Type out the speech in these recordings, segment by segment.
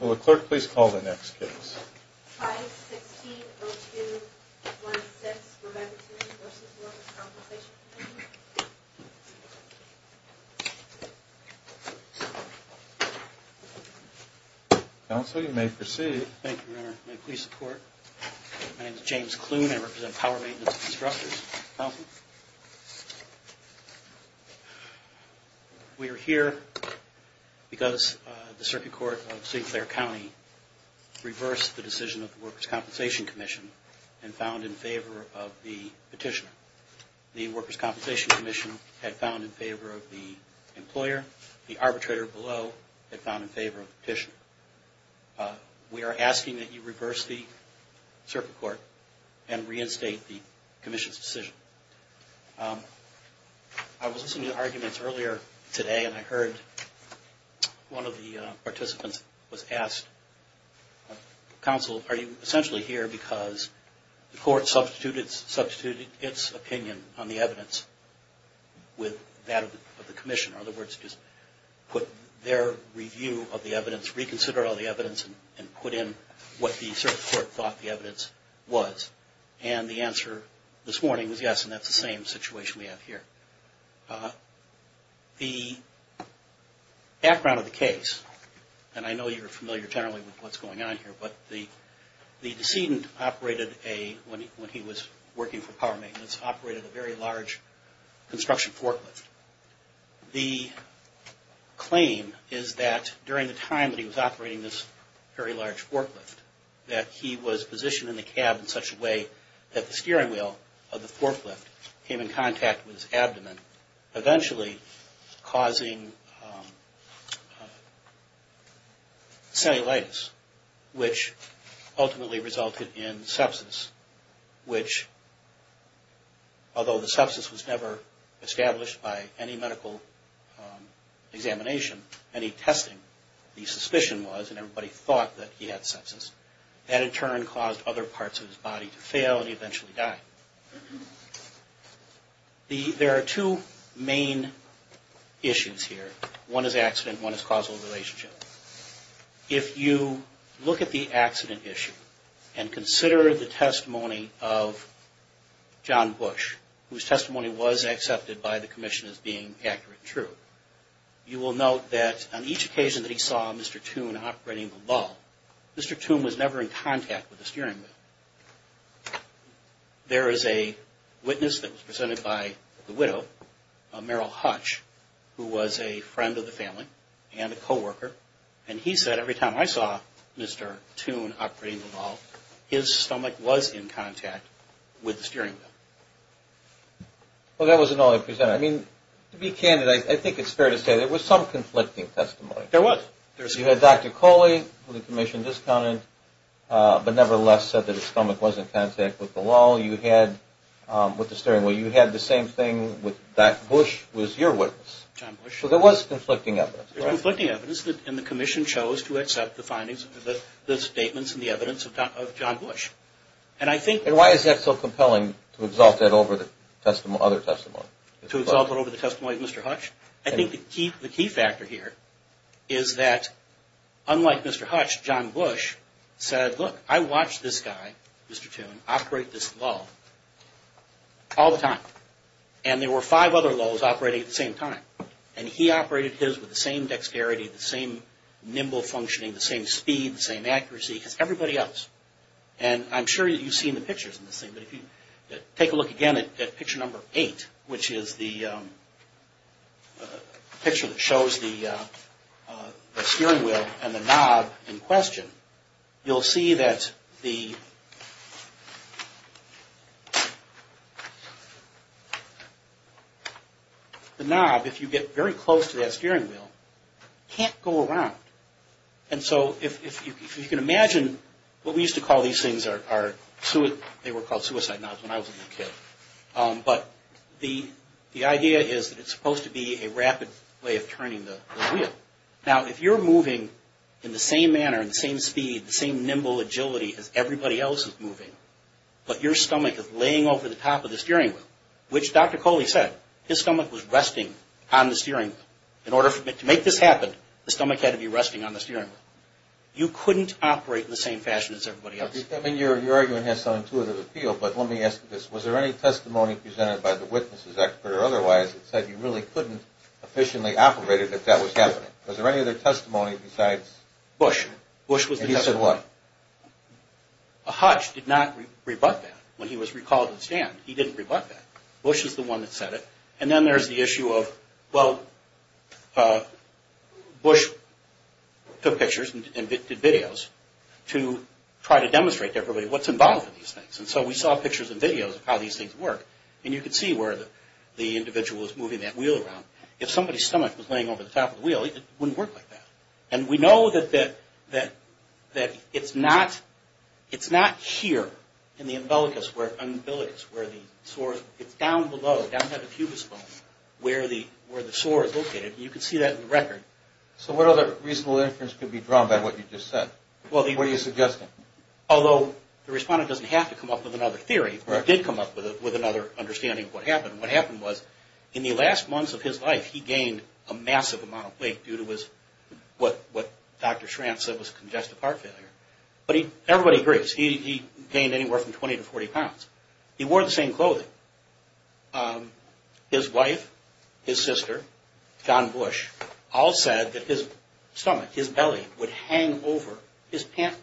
Will the clerk please call the next case? 5-16-02-16, Remediation v. Workers' Compensation Comm'n Counsel, you may proceed. Thank you, Your Honor. May it please the court? My name is James Clune. I represent Power Maintenance Constructors. Counsel? We are here because the Circuit Court of St. Clair County reversed the decision of the Workers' Compensation Comm'n and found in favor of the petitioner. The Workers' Compensation Comm'n had found in favor of the employer. The arbitrator below had found in favor of the petitioner. We are asking that you reverse the Circuit Court and reinstate the Commission's decision. I was listening to the arguments earlier today and I heard one of the participants was asked, Counsel, are you essentially here because the court substituted its opinion on the evidence with that of the Commission? In other words, just put their review of the evidence, reconsider all the evidence and put in what the Circuit Court thought the evidence was. And the answer this morning was yes and that's the same situation we have here. The background of the case, and I know you're familiar generally with what's going on here, but the decedent operated a, when he was working for Power Maintenance, operated a very large construction forklift. The claim is that during the time that he was operating this very large forklift, that he was positioned in the cab in such a way that the steering wheel of the forklift came in contact with his abdomen, eventually causing cellulitis, which ultimately resulted in sepsis, which, although the sepsis was never established by any medical examination, any testing, the suspicion was and everybody thought that he had sepsis. That in turn caused other parts of his body to fail and eventually die. There are two main issues here. One is accident, one is causal relationship. If you look at the accident issue and consider the testimony of John Bush, whose testimony was accepted by the Commission as being accurate and true, you will note that on each occasion that he saw Mr. Toone operating the lull, Mr. Toone was never in contact with the steering wheel. There is a witness that was presented by the widow, Meryl Hutch, who was a friend of the family and a co-worker, and he said every time I saw Mr. Toone operating the lull, his stomach was in contact with the steering wheel. Well, that wasn't all he presented. I mean, to be candid, I think it's fair to say there was some conflicting testimony. There was. You had Dr. Coley, who the Commission discounted, but nevertheless said that his stomach was in contact with the lull. With the steering wheel. You had the same thing with Dr. Bush was your witness. John Bush. So there was conflicting evidence. There was conflicting evidence, and the Commission chose to accept the findings, the statements and the evidence of John Bush. And I think... And why is that so compelling to exalt that over the other testimony? To exalt it over the testimony of Mr. Hutch? I think the key factor here is that unlike Mr. Hutch, John Bush said, look, I watched this guy, Mr. Toone, operate this lull all the time. And there were five other lulls operating at the same time. And he operated his with the same dexterity, the same nimble functioning, the same speed, the same accuracy as everybody else. And I'm sure you've seen the pictures in this thing, but if you take a look again at picture number eight, which is the picture that shows the steering wheel and the knob in question, you'll see that the knob, if you get very close to that steering wheel, can't go around. And so if you can imagine, what we used to call these things, they were called suicide knobs when I was a little kid. But the idea is that it's supposed to be a rapid way of turning the wheel. Now, if you're moving in the same manner, in the same speed, the same nimble agility as everybody else is moving, but your stomach is laying over the top of the steering wheel, which Dr. Coley said, his stomach was resting on the steering wheel. In order to make this happen, the stomach had to be resting on the steering wheel. You couldn't operate in the same fashion as everybody else. I mean, your argument has some intuitive appeal, but let me ask you this. Was there any testimony presented by the witnesses, expert or otherwise, that said you really couldn't efficiently operate it if that was happening? Was there any other testimony besides? Bush. Bush was the testimony. And he said what? Hodge did not rebut that when he was recalled to the stand. He didn't rebut that. Bush is the one that said it. And then there's the issue of, well, Bush took pictures and did videos to try to demonstrate to everybody what's involved in these things. And so we saw pictures and videos of how these things work. And you could see where the individual was moving that wheel around. If somebody's stomach was laying over the top of the wheel, it wouldn't work like that. And we know that it's not here in the umbilicus where the sore is. It's down below, down by the pubis bone, where the sore is located. And you can see that in the record. So what other reasonable inference could be drawn by what you just said? What are you suggesting? Although the respondent doesn't have to come up with another theory. He did come up with another understanding of what happened. What happened was, in the last months of his life, he gained a massive amount of weight due to what Dr. Schrantz said was congestive heart failure. But everybody agrees, he gained anywhere from 20 to 40 pounds. He wore the same clothing. His wife, his sister, John Bush, all said that his stomach, his belly, would hang over his pants,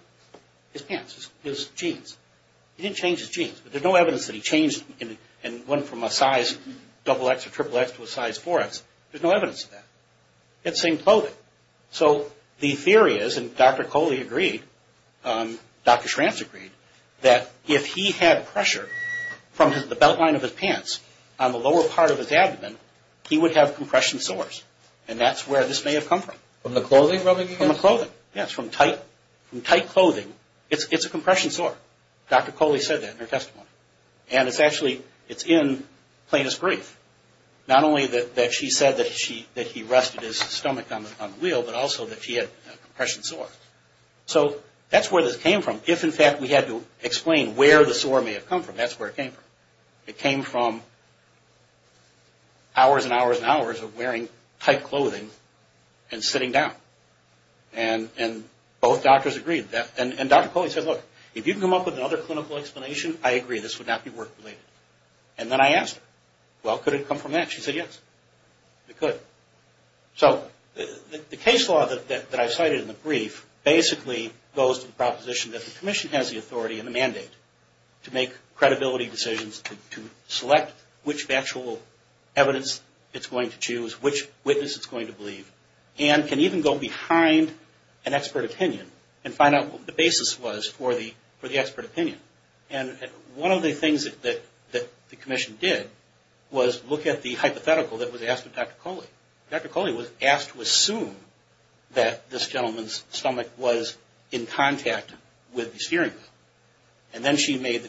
his jeans. He didn't change his jeans, but there's no evidence that he changed and went from a size XX or XXX to a size 4X. There's no evidence of that. He had the same clothing. So the theory is, and Dr. Coley agreed, Dr. Schrantz agreed, that if he had pressure from the beltline of his pants on the lower part of his abdomen, he would have compression sores. And that's where this may have come from. From the clothing rubbing against him? From the clothing, yes. From tight clothing, it's a compression sore. Dr. Coley said that in her testimony. And it's actually, it's in plaintiff's brief. Not only that she said that he rusted his stomach on the wheel, but also that she had a compression sore. So that's where this came from. If, in fact, we had to explain where the sore may have come from, that's where it came from. It came from hours and hours and hours of wearing tight clothing and sitting down. And both doctors agreed. And Dr. Coley said, look, if you can come up with another clinical explanation, I agree. This would not be work-related. And then I asked her, well, could it come from that? She said, yes, it could. So the case law that I cited in the brief basically goes to the proposition that the commission has the authority and the mandate to make credibility decisions, to select which factual evidence it's going to choose, which witness it's going to believe, and can even go behind an expert opinion and find out what the basis was for the expert opinion. And one of the things that the commission did was look at the hypothetical that was asked of Dr. Coley. Dr. Coley was asked to assume that this gentleman's stomach was in contact with the steering wheel. And then she made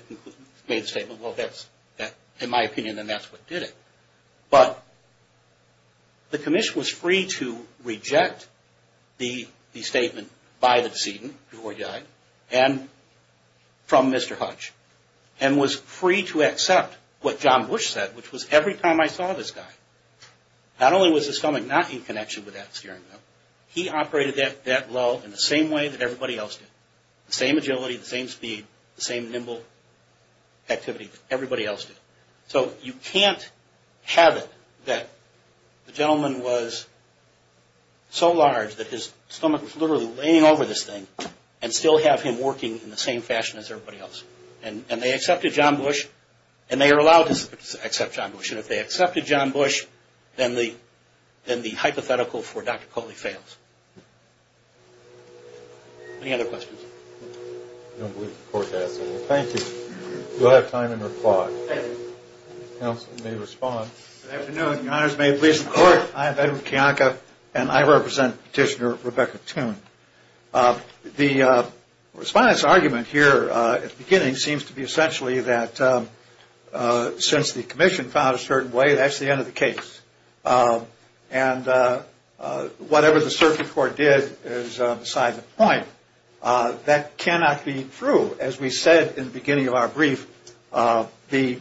the statement, well, that's in my opinion, and that's what did it. But the commission was free to reject the statement by the decedent before he died and from Mr. Hutch and was free to accept what John Bush said, which was every time I saw this guy, not only was his stomach not in connection with that steering wheel, he operated that well in the same way that everybody else did. The same agility, the same speed, the same nimble activity that everybody else did. So you can't have it that the gentleman was so large that his stomach was literally laying over this thing and still have him working in the same fashion as everybody else. And they accepted John Bush, and they are allowed to accept John Bush. And if they accepted John Bush, then the hypothetical for Dr. Coley fails. Any other questions? I don't believe the court has any. Thank you. You'll have time in reply. Counsel may respond. Good afternoon. Your honors may please record. I am Edward Kiyanka, and I represent Petitioner Rebecca Toone. The response argument here at the beginning seems to be essentially that since the commission found a certain way, that's the end of the case. And whatever the circuit court did is beside the point. That cannot be true. As we said in the beginning of our brief, the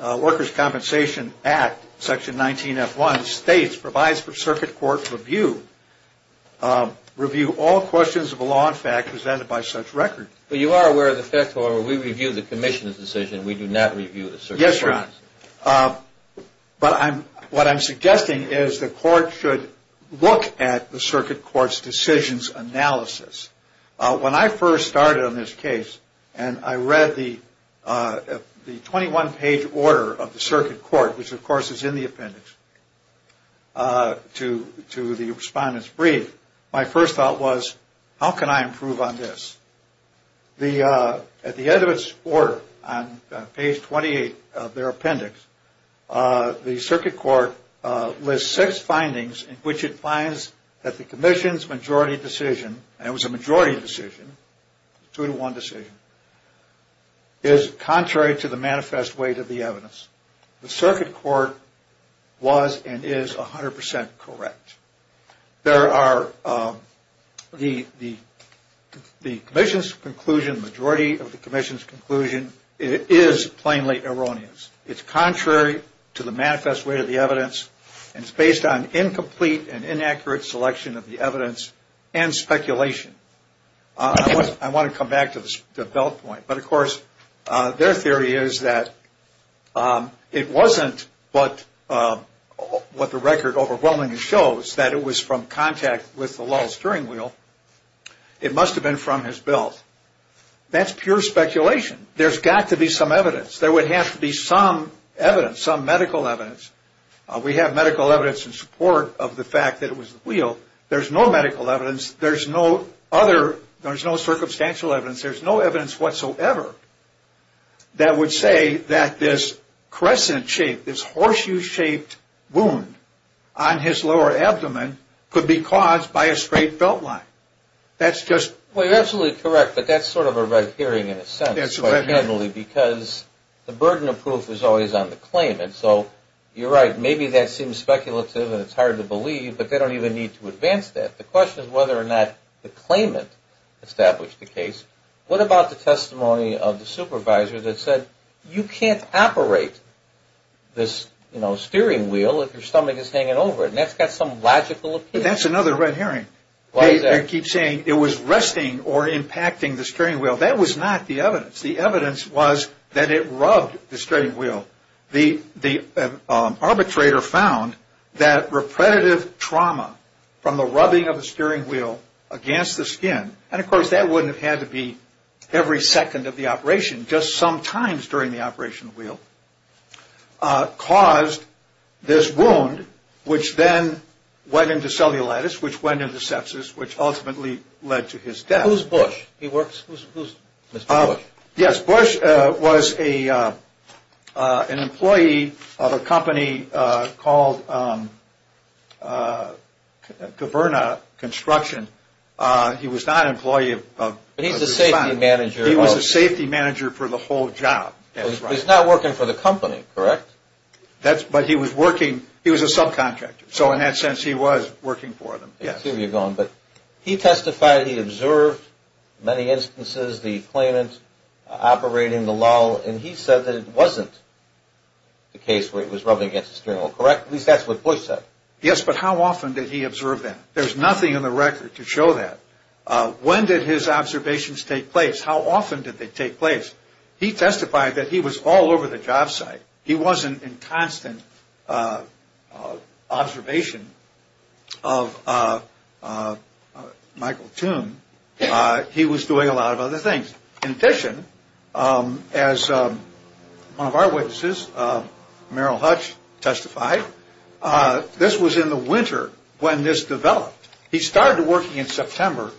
Workers' Compensation Act, Section 19F1, states, provides for circuit court review. Review all questions of a law in fact presented by such record. But you are aware of the fact, however, we review the commission's decision. Yes, your honors. But what I'm suggesting is the court should look at the circuit court's decisions analysis. When I first started on this case and I read the 21-page order of the circuit court, which of course is in the appendix, to the respondent's brief, my first thought was, how can I improve on this? At the end of its order, on page 28 of their appendix, the circuit court lists six findings in which it finds that the commission's majority decision, and it was a majority decision, two to one decision, is contrary to the manifest weight of the evidence. The circuit court was and is 100% correct. There are the commission's conclusion, majority of the commission's conclusion, is plainly erroneous. It's contrary to the manifest weight of the evidence, and it's based on incomplete and inaccurate selection of the evidence and speculation. I want to come back to the belt point. But of course, their theory is that it wasn't what the record overwhelmingly shows, that it was from contact with the Lulz steering wheel. It must have been from his belt. That's pure speculation. There's got to be some evidence. There would have to be some evidence, some medical evidence. We have medical evidence in support of the fact that it was the wheel. There's no medical evidence. There's no other. There's no circumstantial evidence. There's no evidence whatsoever that would say that this crescent shape, this horseshoe-shaped wound on his lower abdomen could be caused by a straight belt line. That's just... Well, you're absolutely correct, but that's sort of a red herring in a sense. That's a red herring. Because the burden of proof is always on the claimant. So you're right, maybe that seems speculative and it's hard to believe, but they don't even need to advance that. The question is whether or not the claimant established the case. What about the testimony of the supervisor that said, you can't operate this steering wheel if your stomach is hanging over it, and that's got some logical appeal. That's another red herring. Why is that? They keep saying it was resting or impacting the steering wheel. That was not the evidence. The evidence was that it rubbed the steering wheel. The arbitrator found that repetitive trauma from the rubbing of the steering wheel against the skin, and of course that wouldn't have had to be every second of the operation, just sometimes during the operation of the wheel, caused this wound, which then went into cellulitis, which went into sepsis, which ultimately led to his death. Who's Bush? Who's Mr. Bush? Yes, Bush was an employee of a company called Governa Construction. He was not an employee. He's the safety manager. He was the safety manager for the whole job. He's not working for the company, correct? But he was working. He was a subcontractor, so in that sense he was working for them. He testified he observed many instances the claimant operating the lull, and he said that it wasn't the case where it was rubbing against the steering wheel, correct? At least that's what Bush said. Yes, but how often did he observe that? There's nothing in the record to show that. When did his observations take place? How often did they take place? He testified that he was all over the job site. He wasn't in constant observation of Michael Toome. He was doing a lot of other things. In addition, as one of our witnesses, Merrill Hutch, testified, this was in the winter when this developed. He started working in September,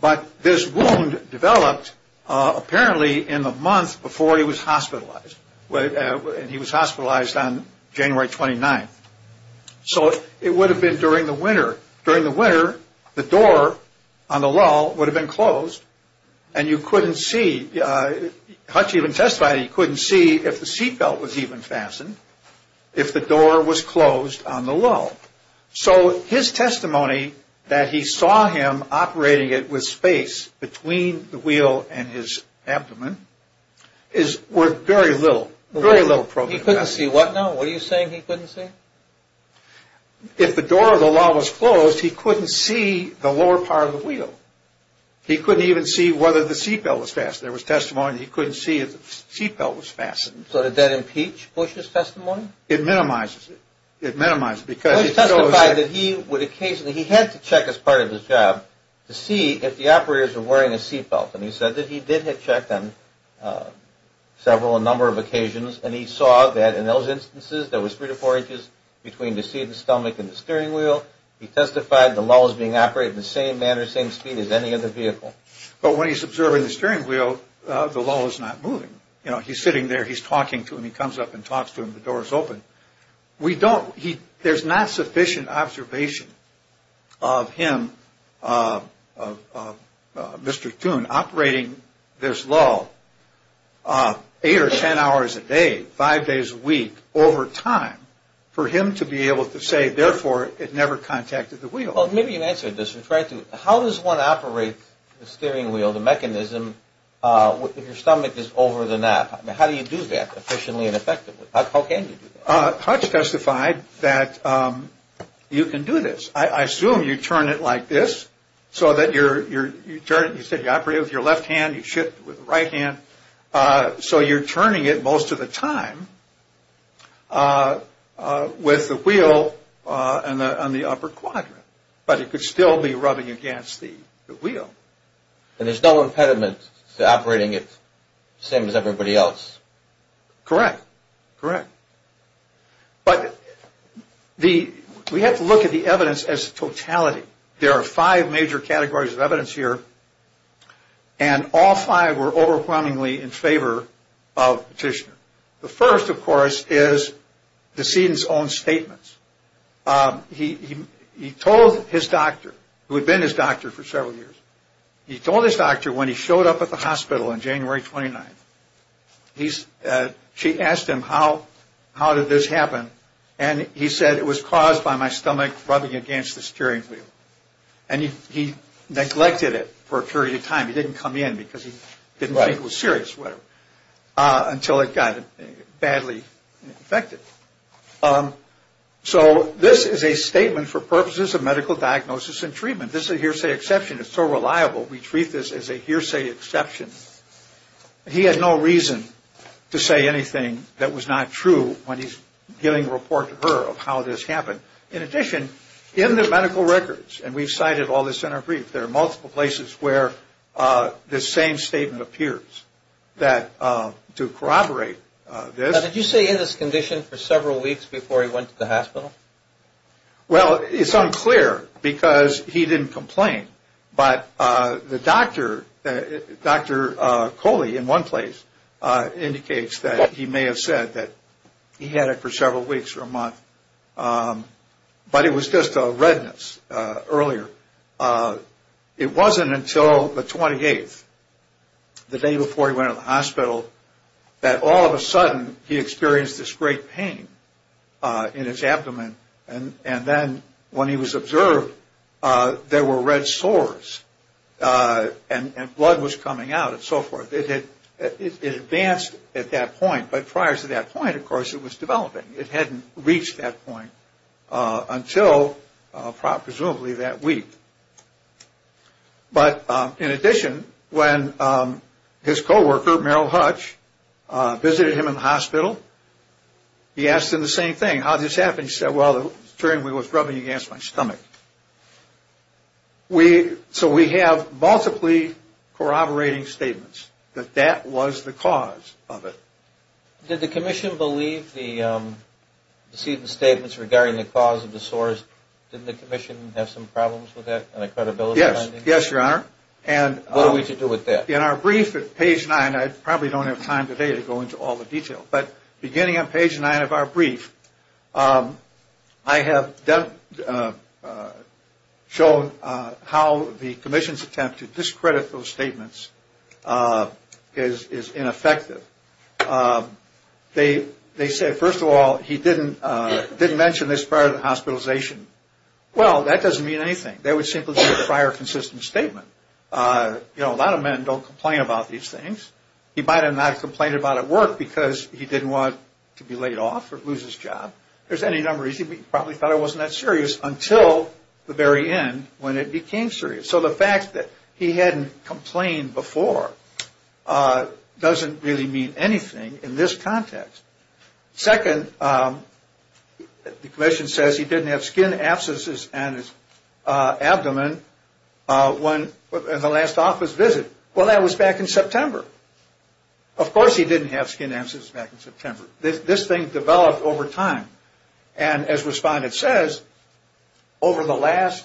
but this wound developed apparently in the month before he was hospitalized. He was hospitalized on January 29th. So it would have been during the winter. During the winter, the door on the lull would have been closed, and you couldn't see, Hutch even testified he couldn't see if the seatbelt was even fastened, if the door was closed on the lull. So his testimony that he saw him operating it with space between the wheel and his abdomen is worth very little, very little progress. He couldn't see what now? What are you saying he couldn't see? If the door of the lull was closed, he couldn't see the lower part of the wheel. He couldn't even see whether the seatbelt was fastened. There was testimony he couldn't see if the seatbelt was fastened. So did that impeach Bush's testimony? It minimizes it. It minimizes it. He testified that he would occasionally, he had to check as part of his job to see if the operators were wearing a seatbelt, and he said that he did have checked on several, a number of occasions, and he saw that in those instances there was three to four inches between the seat, the stomach, and the steering wheel. He testified the lull was being operated in the same manner, same speed as any other vehicle. But when he's observing the steering wheel, the lull is not moving. You know, he's sitting there, he's talking to him, he comes up and talks to him, the door is open. We don't, there's not sufficient observation of him, of Mr. Toone, operating this lull eight or ten hours a day, five days a week, over time, for him to be able to say, therefore, it never contacted the wheel. Well, maybe you answered this. How does one operate the steering wheel, the mechanism, if your stomach is over the nap? How do you do that efficiently and effectively? How can you do that? Hutch testified that you can do this. I assume you turn it like this so that you're, you turn it, you said you operate it with your left hand, you shift it with the right hand, so you're turning it most of the time with the wheel on the upper quadrant. But it could still be rubbing against the wheel. And there's no impediment to operating it the same as everybody else. Correct, correct. But we have to look at the evidence as totality. There are five major categories of evidence here, and all five were overwhelmingly in favor of Petitioner. The first, of course, is the decedent's own statements. He told his doctor, who had been his doctor for several years, he told his doctor when he showed up at the hospital on January 29th, she asked him how did this happen, and he said it was caused by my stomach rubbing against the steering wheel. And he neglected it for a period of time. He didn't come in because he didn't think it was serious, whatever, until it got badly infected. So this is a statement for purposes of medical diagnosis and treatment. This is a hearsay exception. It's so reliable, we treat this as a hearsay exception. He had no reason to say anything that was not true when he's giving a report to her of how this happened. In addition, in the medical records, and we've cited all this in our brief, there are multiple places where this same statement appears to corroborate this. Now, did you say in this condition for several weeks before he went to the hospital? Well, it's unclear because he didn't complain. But the doctor, Dr. Coley in one place, indicates that he may have said that he had it for several weeks or a month. But it was just a redness earlier. It wasn't until the 28th, the day before he went to the hospital, that all of a sudden he experienced this great pain in his abdomen. And then when he was observed, there were red sores. And blood was coming out and so forth. It advanced at that point. But prior to that point, of course, it was developing. It hadn't reached that point until presumably that week. But in addition, when his co-worker, Merrill Hutch, visited him in the hospital, he asked him the same thing. How did this happen? He said, well, it was rubbing against my stomach. So we have multiply corroborating statements that that was the cause of it. Did the commission believe the statements regarding the cause of the sores? Didn't the commission have some problems with that and a credibility finding? Yes, Your Honor. What are we to do with that? In our brief at page 9, I probably don't have time today to go into all the detail. But beginning on page 9 of our brief, I have shown how the commission's attempt to discredit those statements is ineffective. They say, first of all, he didn't mention this prior to the hospitalization. Well, that doesn't mean anything. That would simply be a prior consistent statement. You know, a lot of men don't complain about these things. He might have not complained about it at work because he didn't want to be laid off or lose his job. There's any number. He probably thought it wasn't that serious until the very end when it became serious. So the fact that he hadn't complained before doesn't really mean anything in this context. Second, the commission says he didn't have skin abscesses on his abdomen in the last office visit. Well, that was back in September. Of course he didn't have skin abscesses back in September. This thing developed over time. And as Respondent says, over the last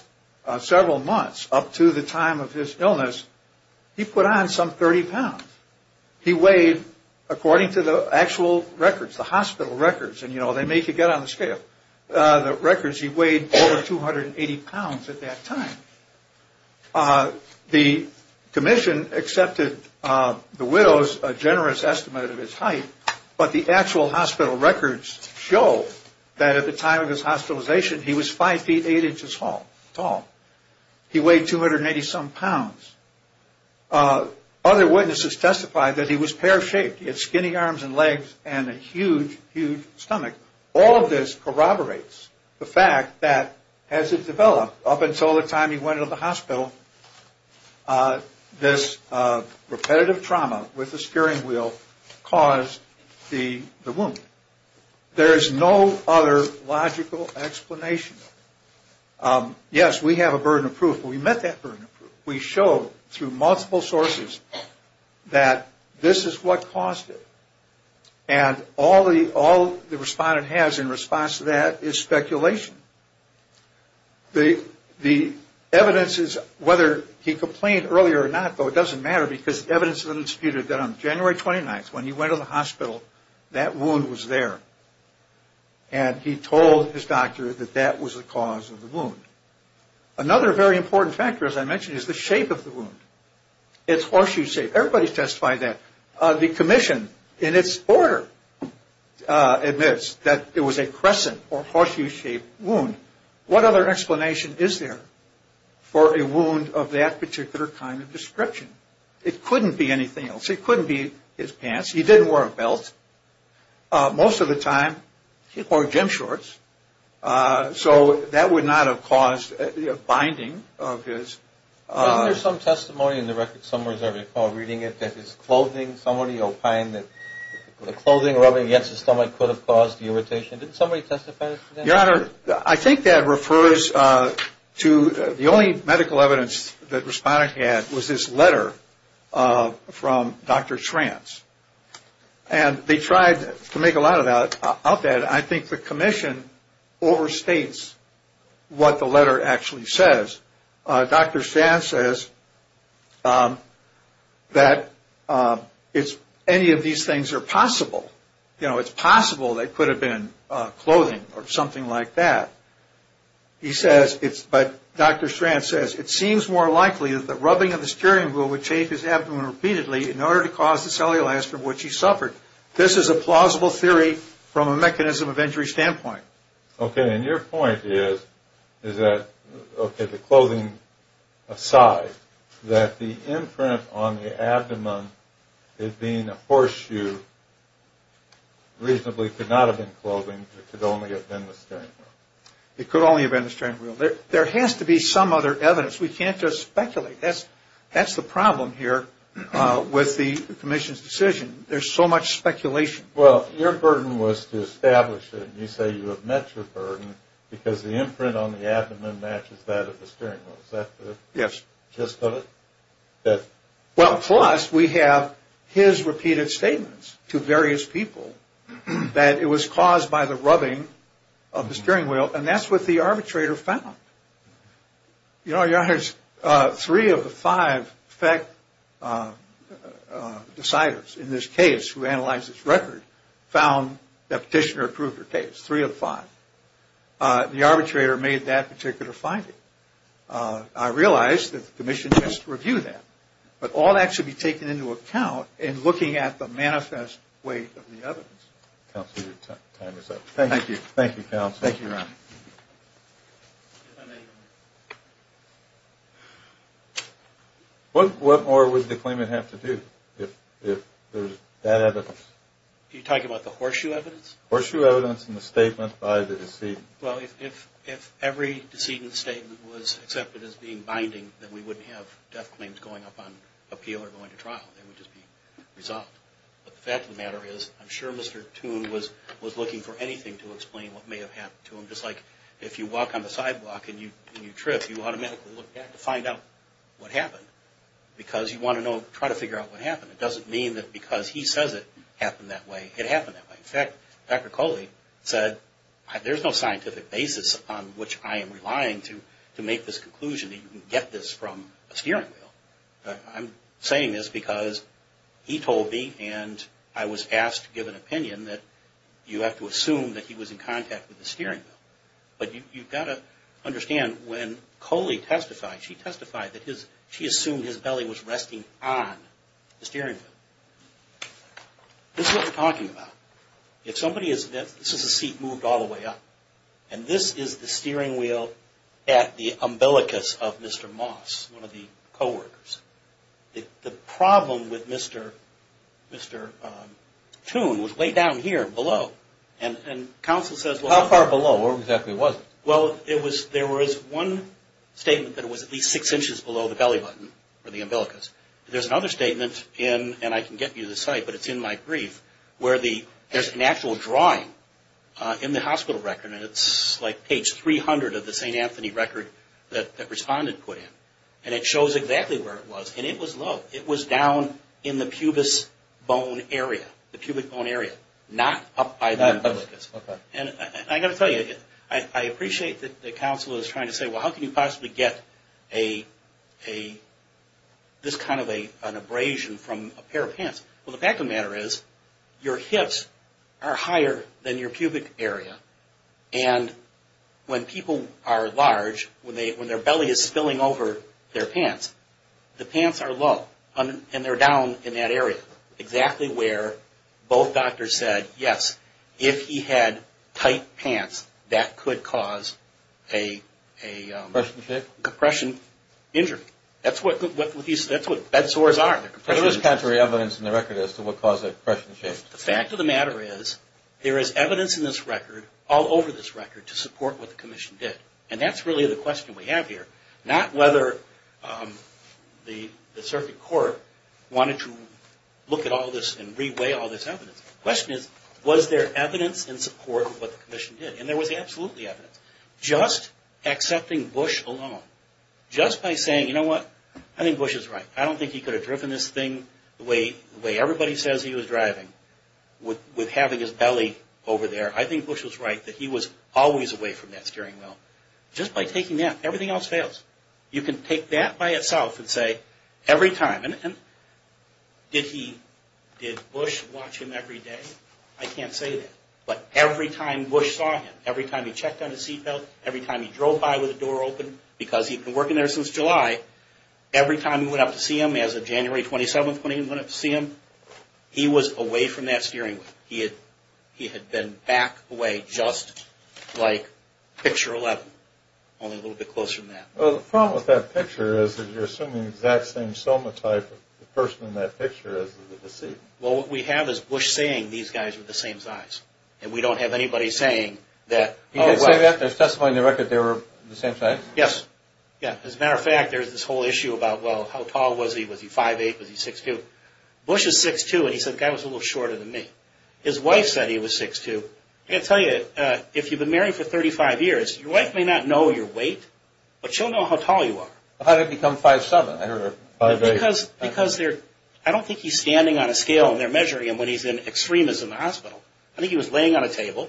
several months up to the time of his illness, he put on some 30 pounds. He weighed, according to the actual records, the hospital records, and, you know, they make you get on the scale, the records he weighed over 280 pounds at that time. The commission accepted the widow's generous estimate of his height, but the actual hospital records show that at the time of his hospitalization he was 5 feet 8 inches tall. He weighed 280-some pounds. Other witnesses testified that he was pear-shaped. He had skinny arms and legs and a huge, huge stomach. All of this corroborates the fact that as it developed up until the time he went into the hospital, this repetitive trauma with the steering wheel caused the wound. There is no other logical explanation. Yes, we have a burden of proof, but we met that burden of proof. We showed through multiple sources that this is what caused it. And all the respondent has in response to that is speculation. The evidence is, whether he complained earlier or not, though, it doesn't matter, because evidence has been disputed that on January 29th, when he went to the hospital, that wound was there, and he told his doctor that that was the cause of the wound. Another very important factor, as I mentioned, is the shape of the wound. It's horseshoe-shaped. Everybody testified that. The commission, in its order, admits that it was a crescent or horseshoe-shaped wound. What other explanation is there for a wound of that particular kind of description? It couldn't be anything else. It couldn't be his pants. He didn't wear a belt. Most of the time, he wore gym shorts, so that would not have caused a binding of his. Isn't there some testimony in the record somewhere, as I recall reading it, that his clothing, somebody opined that the clothing rubbing against his stomach could have caused the irritation? Didn't somebody testify to that? Your Honor, I think that refers to the only medical evidence the respondent had was this letter from Dr. Trance. And they tried to make a lot of that. I think the commission overstates what the letter actually says. Dr. Trance says that any of these things are possible. You know, it's possible they could have been clothing or something like that. He says, but Dr. Trance says, it seems more likely that the rubbing of the steering wheel would shape his abdomen repeatedly in order to cause the cellulitis from which he suffered. This is a plausible theory from a mechanism of injury standpoint. Okay. And your point is that, okay, the clothing aside, that the imprint on the abdomen, it being a horseshoe, reasonably could not have been clothing. It could only have been the steering wheel. It could only have been the steering wheel. There has to be some other evidence. We can't just speculate. That's the problem here with the commission's decision. There's so much speculation. Well, your burden was to establish it, and you say you have met your burden because the imprint on the abdomen matches that of the steering wheel. Is that the gist of it? Well, plus, we have his repeated statements to various people that it was caused by the rubbing of the steering wheel, and that's what the arbitrator found. You know, your honors, three of the five FECT deciders in this case who analyzed this record found that Petitioner approved her case, three of five. The arbitrator made that particular finding. I realize that the commission has to review that, but all that should be taken into account in looking at the manifest weight of the evidence. Counsel, your time is up. Thank you. Thank you, counsel. Thank you, Ron. Thank you. What more would the claimant have to do if there's that evidence? Are you talking about the horseshoe evidence? Horseshoe evidence in the statement by the decedent. Well, if every decedent's statement was accepted as being binding, then we wouldn't have death claims going up on appeal or going to trial. They would just be resolved. But the fact of the matter is I'm sure Mr. Toone was looking for anything to explain what may have happened to him. Just like if you walk on the sidewalk and you trip, you automatically look back to find out what happened because you want to try to figure out what happened. It doesn't mean that because he says it happened that way, it happened that way. In fact, Dr. Coley said, there's no scientific basis upon which I am relying to make this conclusion that you can get this from a steering wheel. I'm saying this because he told me and I was asked to give an opinion that you have to assume that he was in contact with the steering wheel. But you've got to understand when Coley testified, she testified that she assumed his belly was resting on the steering wheel. This is what we're talking about. If somebody is – this is a seat moved all the way up and this is the steering wheel at the umbilicus of Mr. Moss, one of the co-workers. The problem with Mr. Toon was way down here below. And counsel says – How far below? Where exactly was it? Well, there was one statement that it was at least six inches below the belly button or the umbilicus. There's another statement in – and I can get you the site, but it's in my brief – where there's an actual drawing in the hospital record and it's like page 300 of the St. Anthony record that the respondent put in. And it shows exactly where it was. And it was low. It was down in the pubis bone area, the pubic bone area, not up by the umbilicus. And I've got to tell you, I appreciate that the counsel is trying to say, well, how can you possibly get a – this kind of an abrasion from a pair of pants? Well, the fact of the matter is your hips are higher than your pubic area. And when people are large, when their belly is spilling over their pants, the pants are low and they're down in that area, exactly where both doctors said, yes, if he had tight pants, that could cause a – Compression shape? Compression injury. That's what bed sores are. There was contrary evidence in the record as to what caused that compression shape. The fact of the matter is there is evidence in this record, all over this record, to support what the commission did. And that's really the question we have here. Not whether the circuit court wanted to look at all this and re-weigh all this evidence. The question is, was there evidence in support of what the commission did? And there was absolutely evidence. Just accepting Bush alone, just by saying, you know what, I think Bush is right. I don't think he could have driven this thing the way everybody says he was driving, with having his belly over there. I think Bush was right that he was always away from that steering wheel. Just by taking that, everything else fails. You can take that by itself and say, every time – and did Bush watch him every day? I can't say that. But every time Bush saw him, every time he checked on his seatbelt, every time he drove by with the door open, because he'd been working there since July, every time he went up to see him, as of January 27th, when he went up to see him, he was away from that steering wheel. He had been back away, just like picture 11, only a little bit closer than that. Well, the problem with that picture is that you're assuming the exact same soma type of person in that picture as is in this scene. Well, what we have is Bush saying these guys were the same size. And we don't have anybody saying that – He did say that? There's testimony in the record they were the same size? Yes. As a matter of fact, there's this whole issue about, well, how tall was he? Was he 5'8"? Was he 6'2"? Bush is 6'2", and he said, the guy was a little shorter than me. His wife said he was 6'2". I've got to tell you, if you've been married for 35 years, your wife may not know your weight, but she'll know how tall you are. How did it become 5'7"? Because they're – I don't think he's standing on a scale, and they're measuring him when he's in extremis in the hospital. I think he was laying on a table,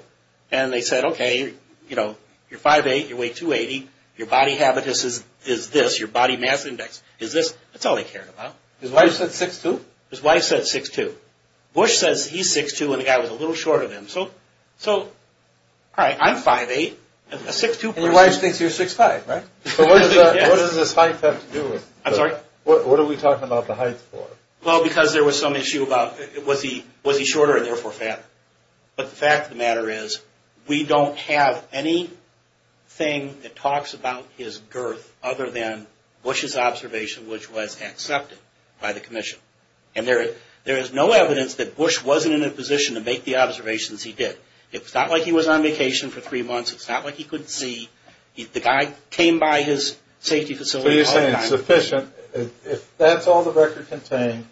and they said, okay, you're 5'8", you weigh 280, your body habitus is this, your body mass index is this. That's all they cared about. His wife said 6'2"? His wife said 6'2". Bush says he's 6'2", and the guy was a little shorter than him. So, all right, I'm 5'8", and a 6'2"... And your wife thinks you're 6'5", right? So what does this height have to do with it? I'm sorry? What are we talking about the height for? Well, because there was some issue about, was he shorter and therefore fatter? But the fact of the matter is we don't have anything that talks about his girth other than Bush's observation, which was accepted by the commission. And there is no evidence that Bush wasn't in a position to make the observations he did. It's not like he was on vacation for three months. It's not like he couldn't see. The guy came by his safety facility all the time. So you're saying it's sufficient, if that's all the record contained,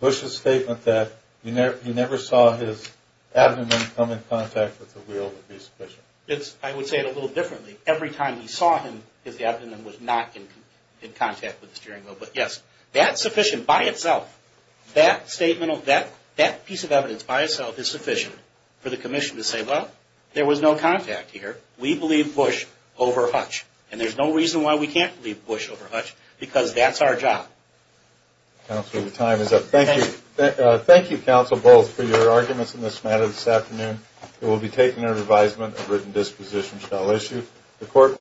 Bush's statement that he never saw his abdomen come in contact with the wheel would be sufficient? I would say it a little differently. Every time he saw him, his abdomen was not in contact with the steering wheel. But, yes, that's sufficient by itself. That piece of evidence by itself is sufficient for the commission to say, well, there was no contact here. We believe Bush over Hutch. And there's no reason why we can't believe Bush over Hutch, because that's our job. Counsel, your time is up. Thank you. Thank you, Counsel Bowles, for your arguments in this matter this afternoon. It will be taken under advisement that written disposition shall issue.